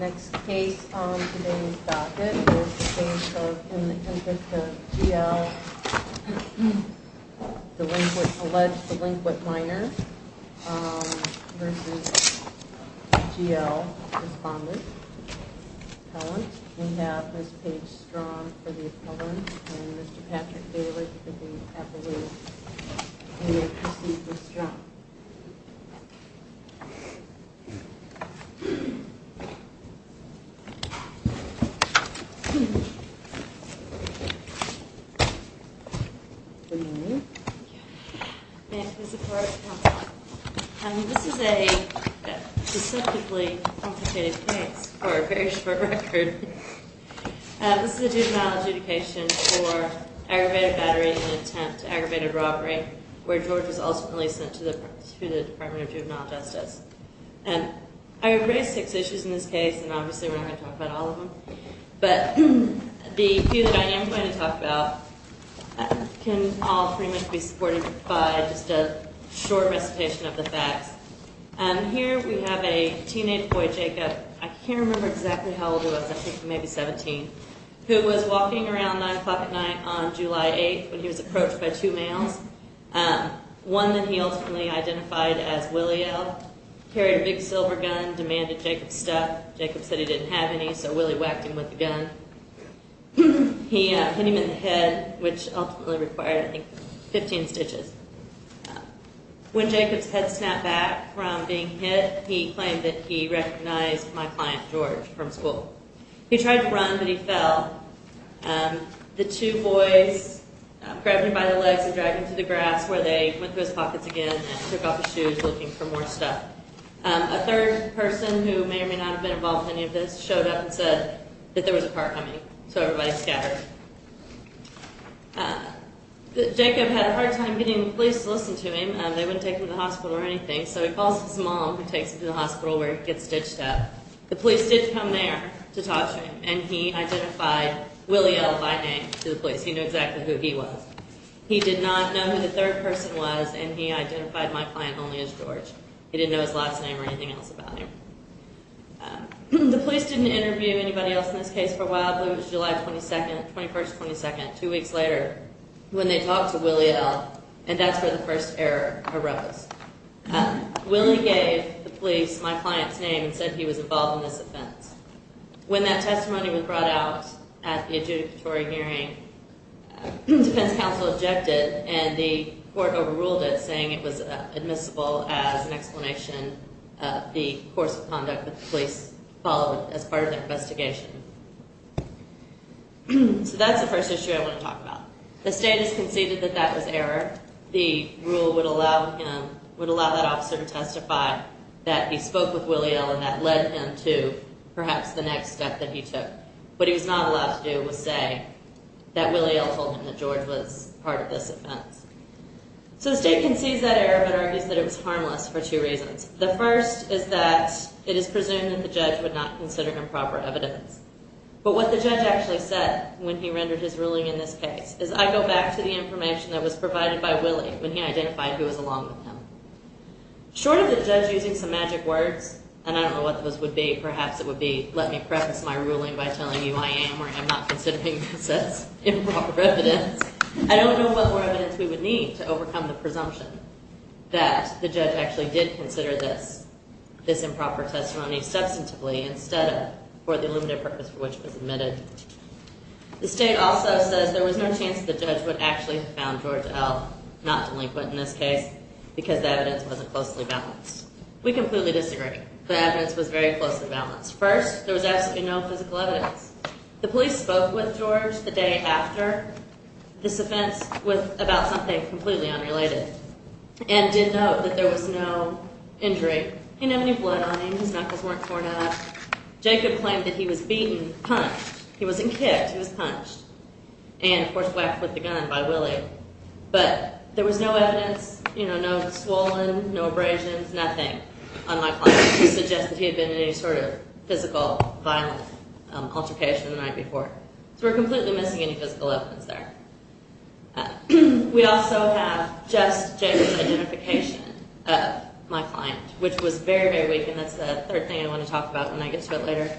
Next case on today's docket is the case of In Interest of G.L. Delinquent, Alleged Delinquent Minors vs. G.L. Respondent Appellant. We have Ms. Paige Strong for the appellant and Mr. Patrick Bayless for the appellant. Thank you. Thank you for the support. This is a deceptively complicated case for a very short record. This is a juvenile adjudication for aggravated battery in an attempt to aggravate a robbery where George was ultimately sent to the Department of Juvenile Justice. I have raised six issues in this case and obviously we're not going to talk about all of them, but the few that I am going to talk about can all pretty much be supported by just a short recitation of the facts. Here we have a teenage boy, Jacob, I can't remember exactly how old he was, I think maybe 17, who was walking around 9 o'clock at night on July 8th when he was approached by two males, one that he ultimately identified as Willie L., carried a big silver gun, demanded Jacob's stuff. Jacob said he didn't have any, so Willie whacked him with the gun. He hit him in the head, which ultimately required, I think, 15 stitches. When Jacob's head snapped back from being hit, he claimed that he recognized my client, George, from school. He tried to run, but he fell. The two boys grabbed him by the legs and dragged him to the grass where they went through his pockets again and took off his shoes looking for more stuff. A third person, who may or may not have been involved in any of this, showed up and said that there was a car coming, so everybody scattered. Jacob had a hard time getting the police to listen to him. They wouldn't take him to the hospital or anything, so he calls his mom, who takes him to the hospital where he gets stitched up. The police did come there to talk to him, and he identified Willie L. by name to the police. He knew exactly who he was. He did not know who the third person was, and he identified my client only as George. He didn't know his last name or anything else about him. The police didn't interview anybody else in this case for a while, but it was July 21st, 22nd, two weeks later, when they talked to Willie L., and that's where the first error arose. Willie gave the police my client's name and said he was involved in this offense. When that testimony was brought out at the adjudicatory hearing, defense counsel objected, and the court overruled it, saying it was admissible as an explanation of the course of conduct that the police followed as part of their investigation. So that's the first issue I want to talk about. The state has conceded that that was error. The rule would allow that officer to testify that he spoke with Willie L., and that led him to perhaps the next step that he took. What he was not allowed to do was say that Willie L. told him that George was part of this offense. So the state concedes that error, but argues that it was harmless for two reasons. The first is that it is presumed that the judge would not consider him proper evidence. But what the judge actually said when he rendered his ruling in this case is I go back to the information that was provided by Willie when he identified who was along with him. Short of the judge using some magic words, and I don't know what those would be, perhaps it would be let me preface my ruling by telling you I am or am not considering this as improper evidence, I don't know what more evidence we would need to overcome the presumption that the judge actually did consider this improper testimony substantively instead of for the limited purpose for which it was admitted. The state also says there was no chance the judge would actually have found George L., not delinquent in this case, because the evidence wasn't closely balanced. We completely disagree. The evidence was very closely balanced. First, there was absolutely no physical evidence. The police spoke with George the day after this offense with about something completely unrelated, and did note that there was no injury. He didn't have any blood on him. His knuckles weren't torn up. Jacob claimed that he was beaten, punched. He wasn't kicked. He was punched. And, of course, whacked with a gun by Willie. But there was no evidence, you know, no swollen, no abrasions, nothing on my client to suggest that he had been in any sort of physical, violent altercation the night before. So we're completely missing any physical evidence there. We also have just Jacob's identification of my client, which was very, very weak, and that's the third thing I want to talk about when I get to it later.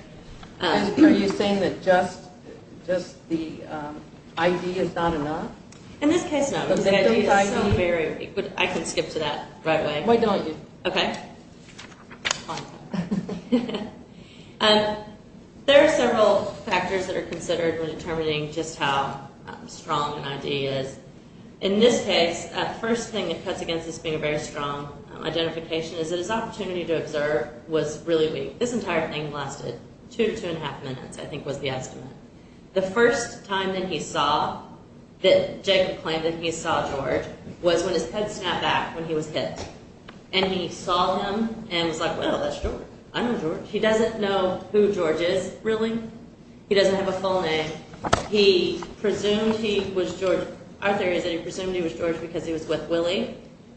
Are you saying that just the ID is not enough? In this case, no. The ID is so very weak. I can skip to that right away. Why don't you? Okay. There are several factors that are considered when determining just how strong an ID is. In this case, the first thing that cuts against this being a very strong identification is that his opportunity to observe was really weak. This entire thing lasted two to two and a half minutes, I think was the estimate. The first time that he saw, that Jacob claimed that he saw George, was when his head snapped back when he was hit. And he saw him and was like, well, that's George. I know George. He doesn't know who George is, really. He doesn't have a full name. He presumed he was George. Our theory is that he presumed he was George because he was with Willie,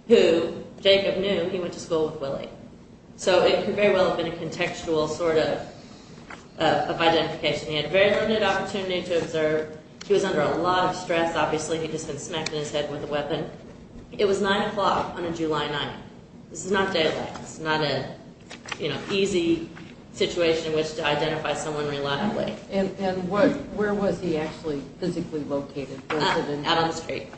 who Jacob knew. He went to school with Willie. So it could very well have been a contextual sort of identification. He had very limited opportunity to observe. He was under a lot of stress, obviously. He'd just been smacked in his head with a weapon. It was 9 o'clock on a July night. This is not daylight. It's not an easy situation in which to identify someone reliably. And where was he actually physically located? Out on the street.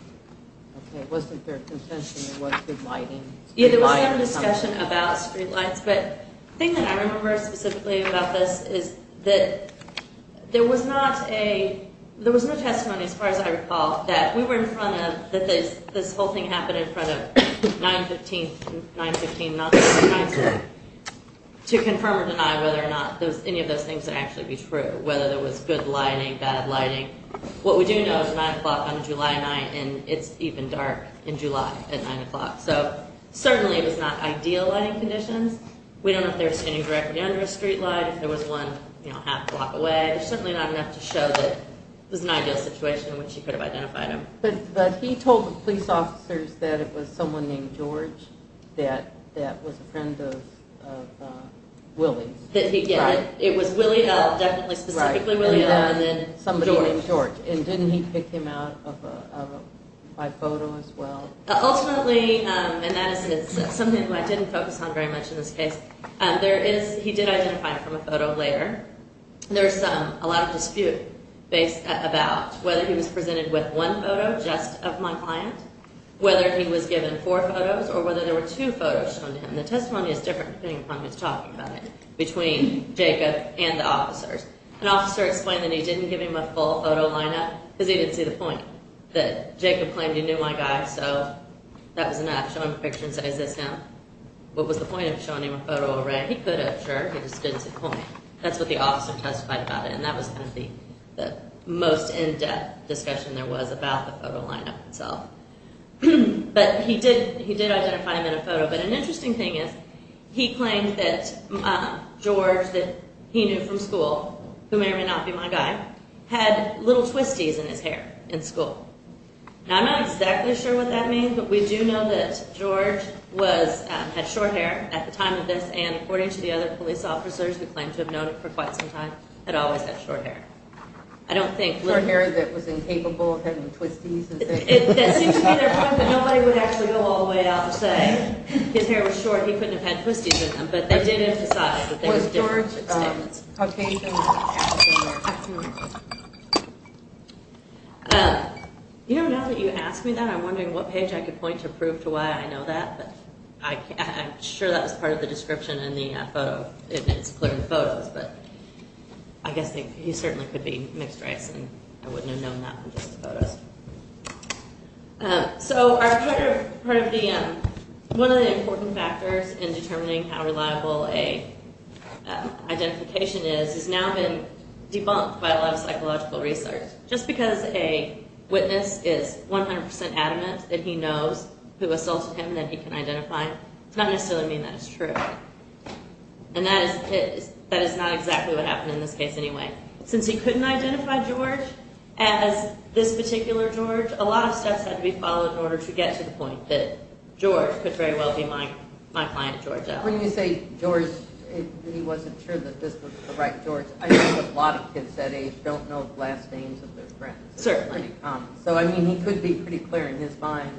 It wasn't fair contention. It wasn't good lighting. Yeah, there was some discussion about street lights. But the thing that I remember specifically about this is that there was not a, there was no testimony, as far as I recall, that we were in front of, that this whole thing happened in front of 915, 915, to confirm or deny whether or not any of those things would actually be true, whether there was good lighting, bad lighting. What we do know is 9 o'clock on a July night, and it's even dark in July at 9 o'clock. So certainly it was not ideal lighting conditions. We don't know if they were standing directly under a street light, if there was one, you know, a half block away. There's certainly not enough to show that it was an ideal situation in which he could have identified him. But he told the police officers that it was someone named George that was a friend of Willie's. That he, yeah, it was Willie L, definitely specifically Willie L, and then George. Somebody named George. And didn't he pick him out by photo as well? Ultimately, and that is something I didn't focus on very much in this case, there is, he did identify him from a photo later. There's a lot of dispute about whether he was presented with one photo just of my client, whether he was given four photos, or whether there were two photos shown to him. between Jacob and the officers. An officer explained that he didn't give him a full photo lineup because he didn't see the point. That Jacob claimed he knew my guy, so that was enough. Show him a picture and say, is this him? What was the point of showing him a photo array? He could have, sure. He just didn't see the point. That's what the officer testified about it, and that was kind of the most in-depth discussion there was about the photo lineup itself. But he did identify him in a photo. But an interesting thing is he claimed that George, that he knew from school, who may or may not be my guy, had little twisties in his hair in school. Now, I'm not exactly sure what that means, but we do know that George had short hair at the time of this, and according to the other police officers who claimed to have known him for quite some time, had always had short hair. Short hair that was incapable of having twisties? That seems to be their point, but nobody would actually go all the way out and say his hair was short, he couldn't have had twisties in them. But they did emphasize that they were different. You know, now that you ask me that, I'm wondering what page I could point to prove to why I know that, but I'm sure that was part of the description in the photo, and it's clear in the photos, but I guess he certainly could be mixed race, and I wouldn't have known that from just the photos. So, one of the important factors in determining how reliable a identification is has now been debunked by a lot of psychological research. Just because a witness is 100% adamant that he knows who assaulted him that he can identify, does not necessarily mean that it's true. And that is not exactly what happened in this case anyway. Since he couldn't identify George as this particular George, a lot of steps had to be followed in order to get to the point that George could very well be my client, George L. When you say George, he wasn't sure that this was the right George. I know a lot of kids that age don't know the last names of their friends. Certainly. So, I mean, he could be pretty clear in his mind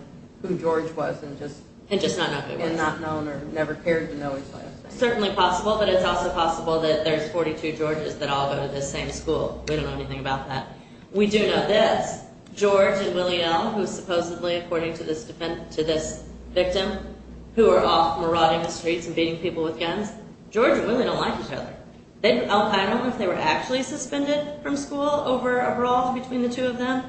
who George was and just not known or never cared to know his last name. Certainly possible, but it's also possible that there's 42 Georges that all go to the same school. We don't know anything about that. We do know this. George and Willie L., who is supposedly, according to this victim, who are off marauding the streets and beating people with guns, George and Willie don't like each other. They don't know if they were actually suspended from school over a brawl between the two of them,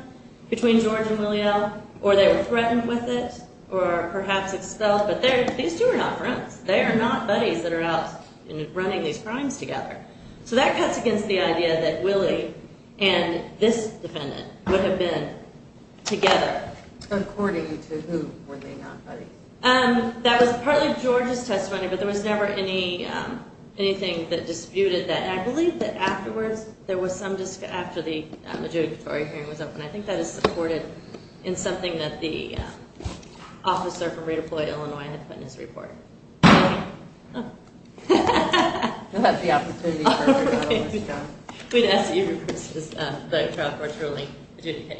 between George and Willie L., or they were threatened with it, or perhaps expelled. But these two are not friends. They are not buddies that are out running these crimes together. So that cuts against the idea that Willie and this defendant would have been together. According to who were they not buddies? That was partly George's testimony, but there was never anything that disputed that. And I believe that afterwards, there was some discussion after the judicatory hearing was over, and I think that is supported in something that the officer from Redeploy Illinois had put in his report. Willie? Oh. We'll have the opportunity for it. We'd ask that you request the trial court ruling. Thank you,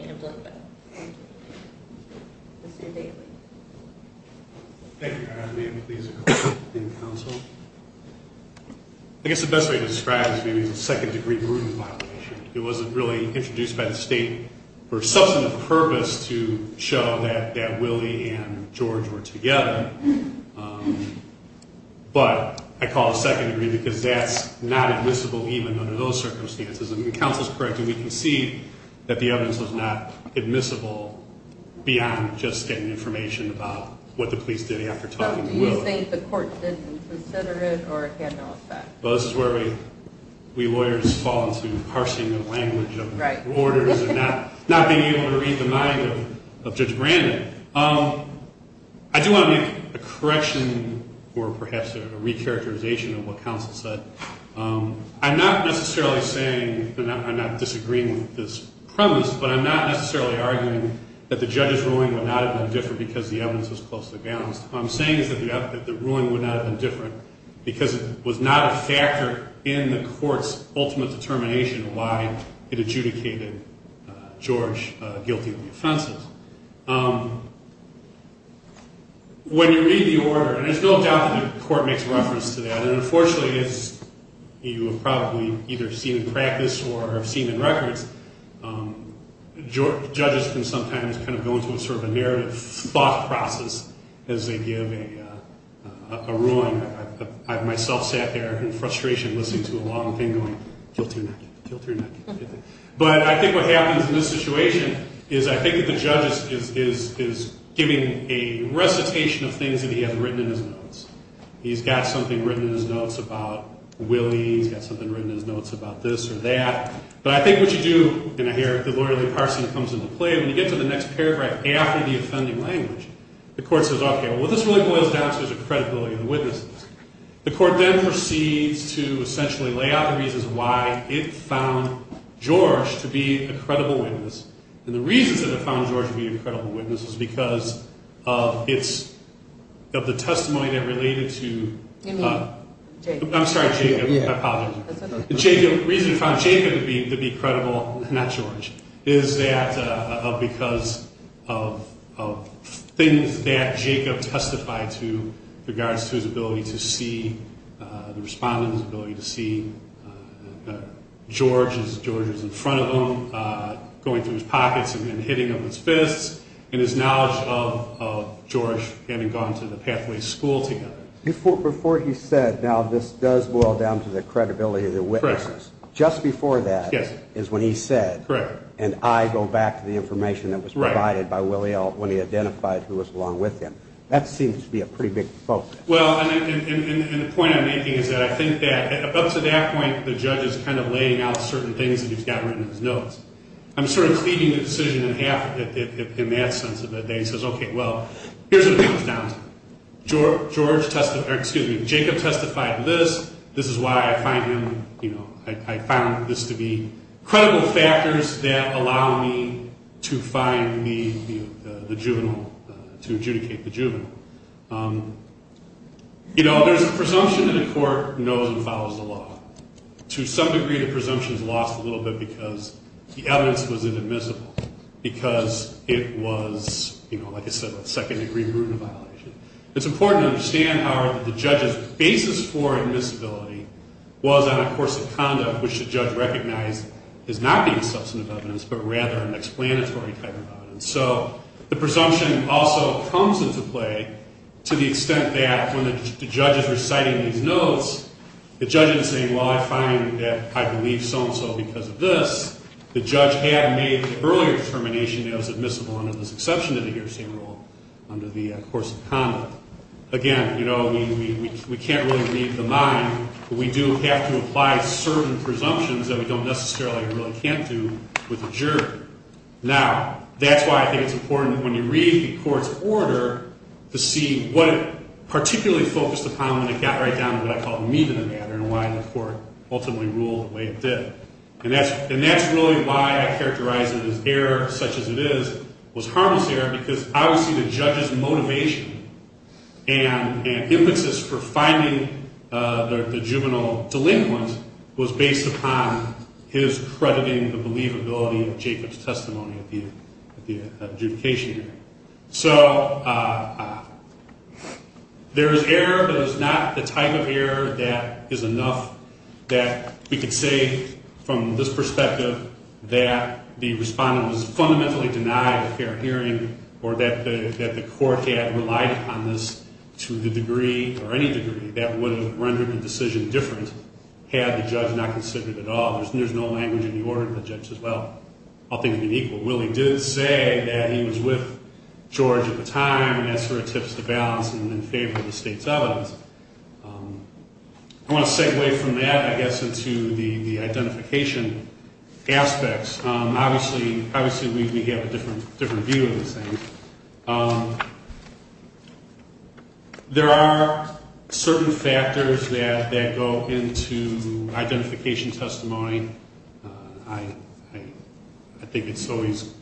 Your Honor. May it please the court and counsel? I guess the best way to describe it to me is a second-degree brutal violation. It wasn't really introduced by the state for substantive purpose to show that Willie and George were together. But I call it second-degree because that's not admissible even under those circumstances. And the counsel is correct, and we can see that the evidence was not admissible beyond just getting information about what the police did after talking to Willie. But do you think the court didn't consider it or it had no effect? Well, this is where we lawyers fall into parsing the language of orders and not being able to read the mind of Judge Brandon. I do want to make a correction or perhaps a re-characterization of what counsel said. I'm not necessarily saying that I'm not disagreeing with this premise, but I'm not necessarily arguing that the judge's ruling would not have been different because the evidence was closely balanced. What I'm saying is that the ruling would not have been different because it was not a factor in the court's ultimate determination of why it adjudicated George guilty of the offenses. When you read the order, and there's no doubt that the court makes reference to that, and unfortunately as you have probably either seen in practice or have seen in records, judges can sometimes kind of go into a sort of a narrative thought process as they give a ruling. I've myself sat there in frustration listening to a long thing going, guilty or not guilty, guilty or not guilty. But I think what happens in this situation is I think that the judge is giving a recitation of things that he had written in his notes. He's got something written in his notes about Willie. He's got something written in his notes about this or that. But I think what you do, and I hear the lawyer, Lee Carson, comes into play, when you get to the next paragraph after the offending language, the court says, okay, well, this really boils down to the credibility of the witnesses. The court then proceeds to essentially lay out the reasons why it found George to be a credible witness, and the reasons that it found George to be a credible witness is because of the testimony that related to Jacob. I'm sorry, Jacob. I apologize. The reason it found Jacob to be credible, not George, is because of things that Jacob testified to with regards to his ability to see the respondent, his ability to see George as George is in front of him, going through his pockets and hitting him with his fists, and his knowledge of George having gone to the Pathways School together. Before he said, now this does boil down to the credibility of the witnesses, just before that is when he said, and I go back to the information that was provided by Willie when he identified who was along with him. That seems to be a pretty big focus. Well, and the point I'm making is that I think that up to that point, the judge is kind of laying out certain things that he's got written in his notes. I'm sort of cleaving the decision in half in that sense of it. He says, okay, well, here's what it boils down to. Jacob testified to this. This is why I find him, you know, I found this to be credible factors that allow me to find the juvenile, to adjudicate the juvenile. You know, there's a presumption that a court knows and follows the law. To some degree, the presumption is lost a little bit because the evidence was inadmissible because it was, you know, like I said, a second-degree murder violation. It's important to understand, however, that the judge's basis for admissibility was on a course of conduct which the judge recognized as not being substantive evidence but rather an explanatory type of evidence. So the presumption also comes into play to the extent that when the judge is reciting these notes, the judge isn't saying, well, I find that I believe so-and-so because of this. The judge had made the earlier determination that it was admissible under this exception to the guillotine rule under the course of conduct. Again, you know, we can't really read the mind, but we do have to apply certain presumptions that we don't necessarily or really can't do with a jury. Now, that's why I think it's important when you read the court's order to see what it particularly focused upon when it got right down to what I call the meat of the matter and why the court ultimately ruled the way it did. And that's really why I characterize it as error such as it is, was harmless error because obviously the judge's motivation and impetus for finding the juvenile delinquent was based upon his crediting the believability of Jacob's testimony at the adjudication hearing. So there is error, but it's not the type of error that is enough that we could say from this perspective that the respondent was fundamentally denied a fair hearing or that the court had relied upon this to the degree or any degree that would have rendered the decision different had the judge not considered it at all. There's no language in the order of the judge as well. I'll think of an equal. Willie did say that he was with George at the time and that sort of tips the balance and in favor of the state's evidence. I want to segue from that, I guess, into the identification aspects. Obviously we have a different view of these things. There are certain factors that go into identification testimony. I think it's always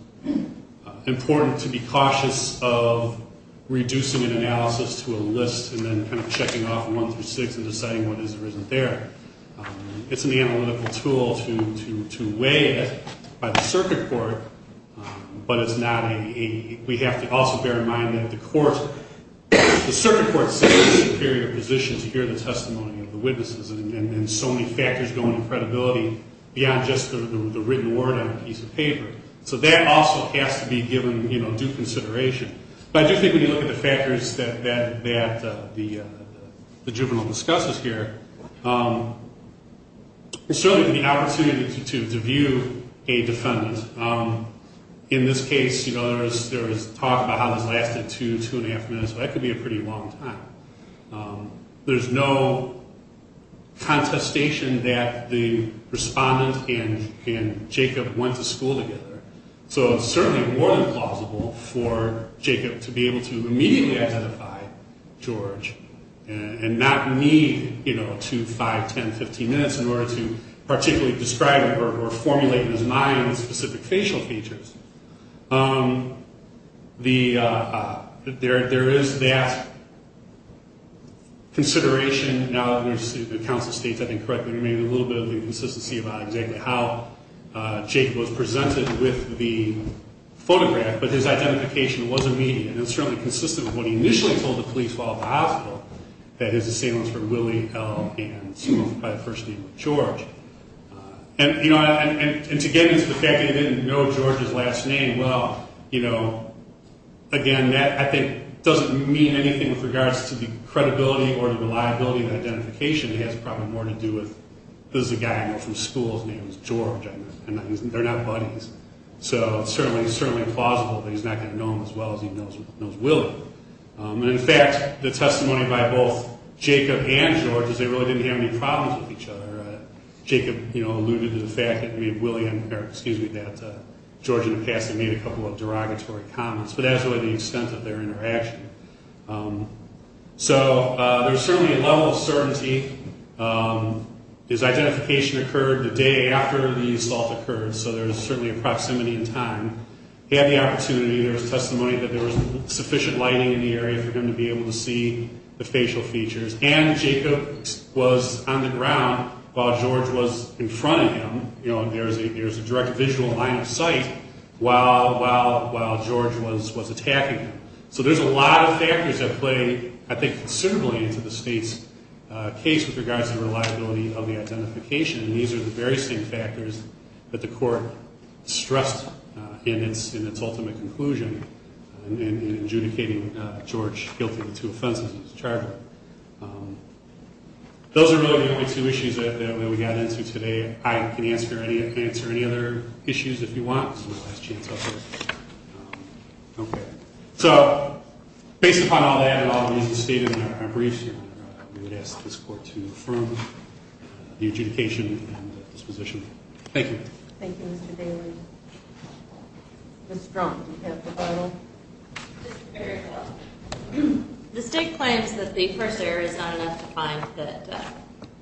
important to be cautious of reducing an analysis to a list and then kind of checking off one through six and deciding what is or isn't there. It's an analytical tool to weigh it by the circuit court, but we have to also bear in mind that the circuit court sits in a superior position to hear the testimony of the witnesses and so many factors go into credibility beyond just the written word on a piece of paper. So that also has to be given due consideration. But I do think when you look at the factors that the juvenile discusses here, there's certainly the opportunity to view a defendant. In this case, there was talk about how this lasted two, two and a half minutes, so that could be a pretty long time. There's no contestation that the respondent and Jacob went to school together. So it's certainly more than plausible for Jacob to be able to immediately identify George and not need, you know, two, five, 10, 15 minutes in order to particularly describe or formulate in his mind the specific facial features. There is that consideration now that the counsel states, I think correctly, maybe a little bit of inconsistency about exactly how Jacob was presented with the photograph, but his identification was immediate and certainly consistent with what he initially told the police while at the hospital, that his assailants were Willie, El, and Smith by the first name of George. And to get into the fact that they didn't know George's last name, well, you know, again, that I think doesn't mean anything with regards to the credibility or the reliability of the identification. It has probably more to do with, this is a guy I know from school. His name is George. They're not buddies. So it's certainly plausible that he's not going to know him as well as he knows Willie. And, in fact, the testimony by both Jacob and George is they really didn't have any problems with each other. Jacob, you know, alluded to the fact that George in the past had made a couple of derogatory comments, but that's really the extent of their interaction. So there's certainly a level of certainty. His identification occurred the day after the assault occurred, so there's certainly a proximity in time. He had the opportunity, there was testimony that there was sufficient lighting in the area for him to be able to see the facial features. And Jacob was on the ground while George was in front of him, you know, and there's a direct visual line of sight while George was attacking him. So there's a lot of factors that play, I think, considerably into the state's case with regards to the reliability of the identification, and these are the very same factors that the court stressed in its ultimate conclusion in adjudicating George guilty of the two offenses he was charged with. Those are really the only two issues that we got into today. I can answer any other issues if you want. Okay. So based upon all that and all of these, the state, in our briefs, we would ask this court to affirm the adjudication and disposition. Thank you. Thank you, Mr. Daly. Ms. Strunk, do you have the final? Mr. Fairchild. The state claims that the first error is not enough to find that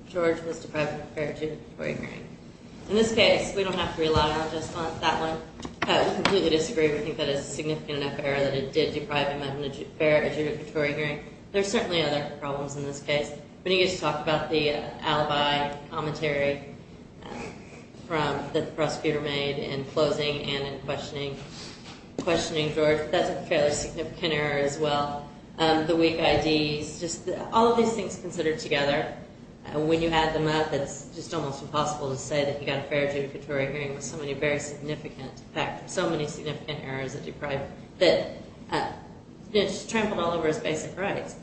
George was deprived of a fair judicatory hearing. In this case, we don't have to rely on just that one. We completely disagree. We think that it's a significant enough error that it did deprive him of a fair adjudicatory hearing. There are certainly other problems in this case. We need to talk about the alibi commentary that the prosecutor made in closing and in questioning George. That's a fairly significant error as well. The weak IDs, just all of these things considered together, when you add them up, it's just almost impossible to say that he got a fair adjudicatory hearing with so many very significant errors that just trampled all over his basic rights.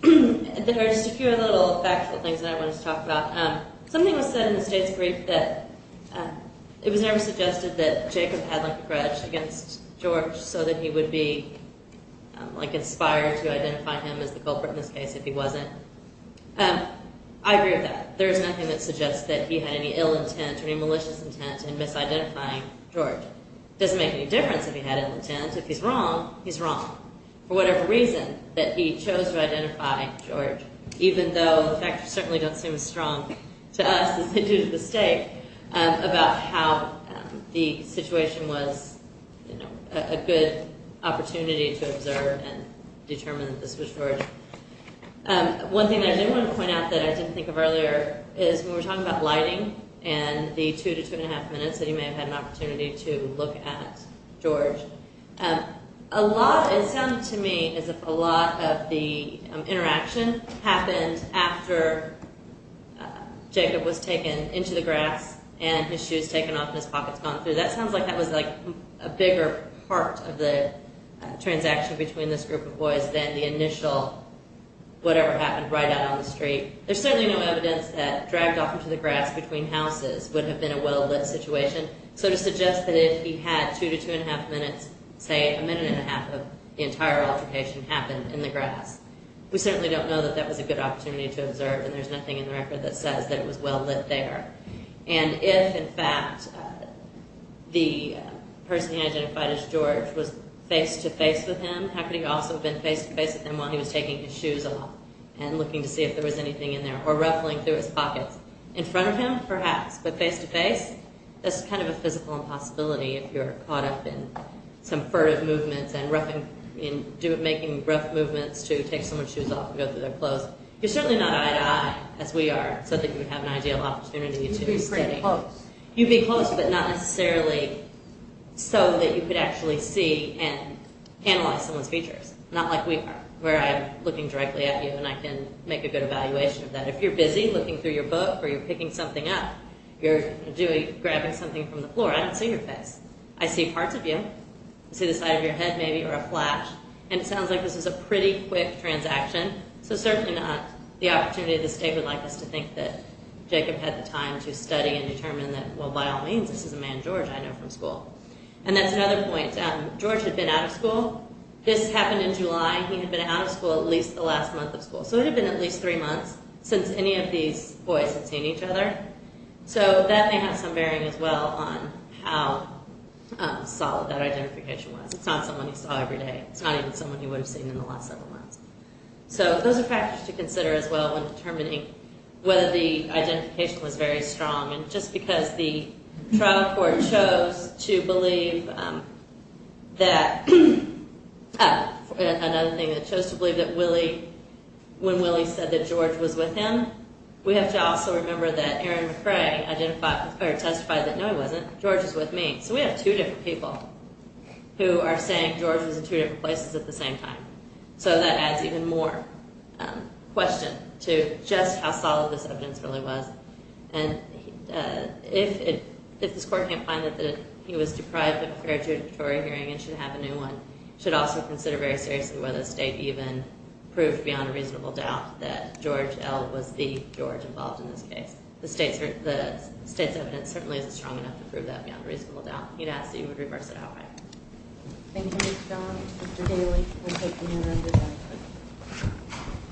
There are just a few other little factual things that I wanted to talk about. Something was said in the state's brief that it was never suggested that Jacob had a grudge against George so that he would be inspired to identify him as the culprit in this case if he wasn't. I agree with that. There's nothing that suggests that he had any ill intent or any malicious intent in misidentifying George. It doesn't make any difference if he had ill intent. If he's wrong, he's wrong. For whatever reason that he chose to identify George, even though the factors certainly don't seem as strong to us as they do to the state, about how the situation was a good opportunity to observe and determine that this was George. One thing I did want to point out that I didn't think of earlier is when we were talking about lighting and the two to two and a half minutes that he may have had an opportunity to look at George, it sounded to me as if a lot of the interaction happened after Jacob was taken into the grass and his shoes taken off and his pockets gone through. That sounds like that was a bigger part of the transaction between this group of boys than the initial whatever happened right out on the street. There's certainly no evidence that dragged off into the grass between houses would have been a well-lit situation. So to suggest that if he had two to two and a half minutes, say a minute and a half of the entire altercation happened in the grass, we certainly don't know that that was a good opportunity to observe and there's nothing in the record that says that it was well-lit there. And if, in fact, the person he identified as George was face-to-face with him, how could he also have been face-to-face with him while he was taking his shoes off and looking to see if there was anything in there or ruffling through his pockets? In front of him, perhaps, but face-to-face? That's kind of a physical impossibility if you're caught up in some furtive movements and making rough movements to take someone's shoes off and go through their clothes. You're certainly not eye-to-eye, as we are, so I think you would have an ideal opportunity to study. You'd be pretty close. You'd be close, but not necessarily so that you could actually see and analyze someone's features. Not like we are, where I'm looking directly at you and I can make a good evaluation of that. But if you're busy looking through your book or you're picking something up, you're grabbing something from the floor, I don't see your face. I see parts of you. I see the side of your head, maybe, or a flash. And it sounds like this is a pretty quick transaction. So certainly not the opportunity of the state would like us to think that Jacob had the time to study and determine that, well, by all means, this is a man George I know from school. And that's another point. George had been out of school. This happened in July. He had been out of school at least the last month of school. So it had been at least three months since any of these boys had seen each other. So that may have some bearing as well on how solid that identification was. It's not someone you saw every day. It's not even someone you would have seen in the last several months. So those are factors to consider as well when determining whether the identification was very strong. And just because the trial court chose to believe that another thing, it chose to believe that when Willie said that George was with him, we have to also remember that Aaron McRae testified that, no, he wasn't. George is with me. So we have two different people who are saying George was in two different places at the same time. So that adds even more question to just how solid this evidence really was. And if this court can't find that he was deprived of a fair juridictory hearing and should have a new one, it should also consider very seriously whether the state even proved beyond a reasonable doubt that George L. was the George involved in this case. The state's evidence certainly isn't strong enough to prove that beyond a reasonable doubt. You'd ask that you would reverse it outright. Thank you, Ms. John. Mr. Daly, we'll take the order under that.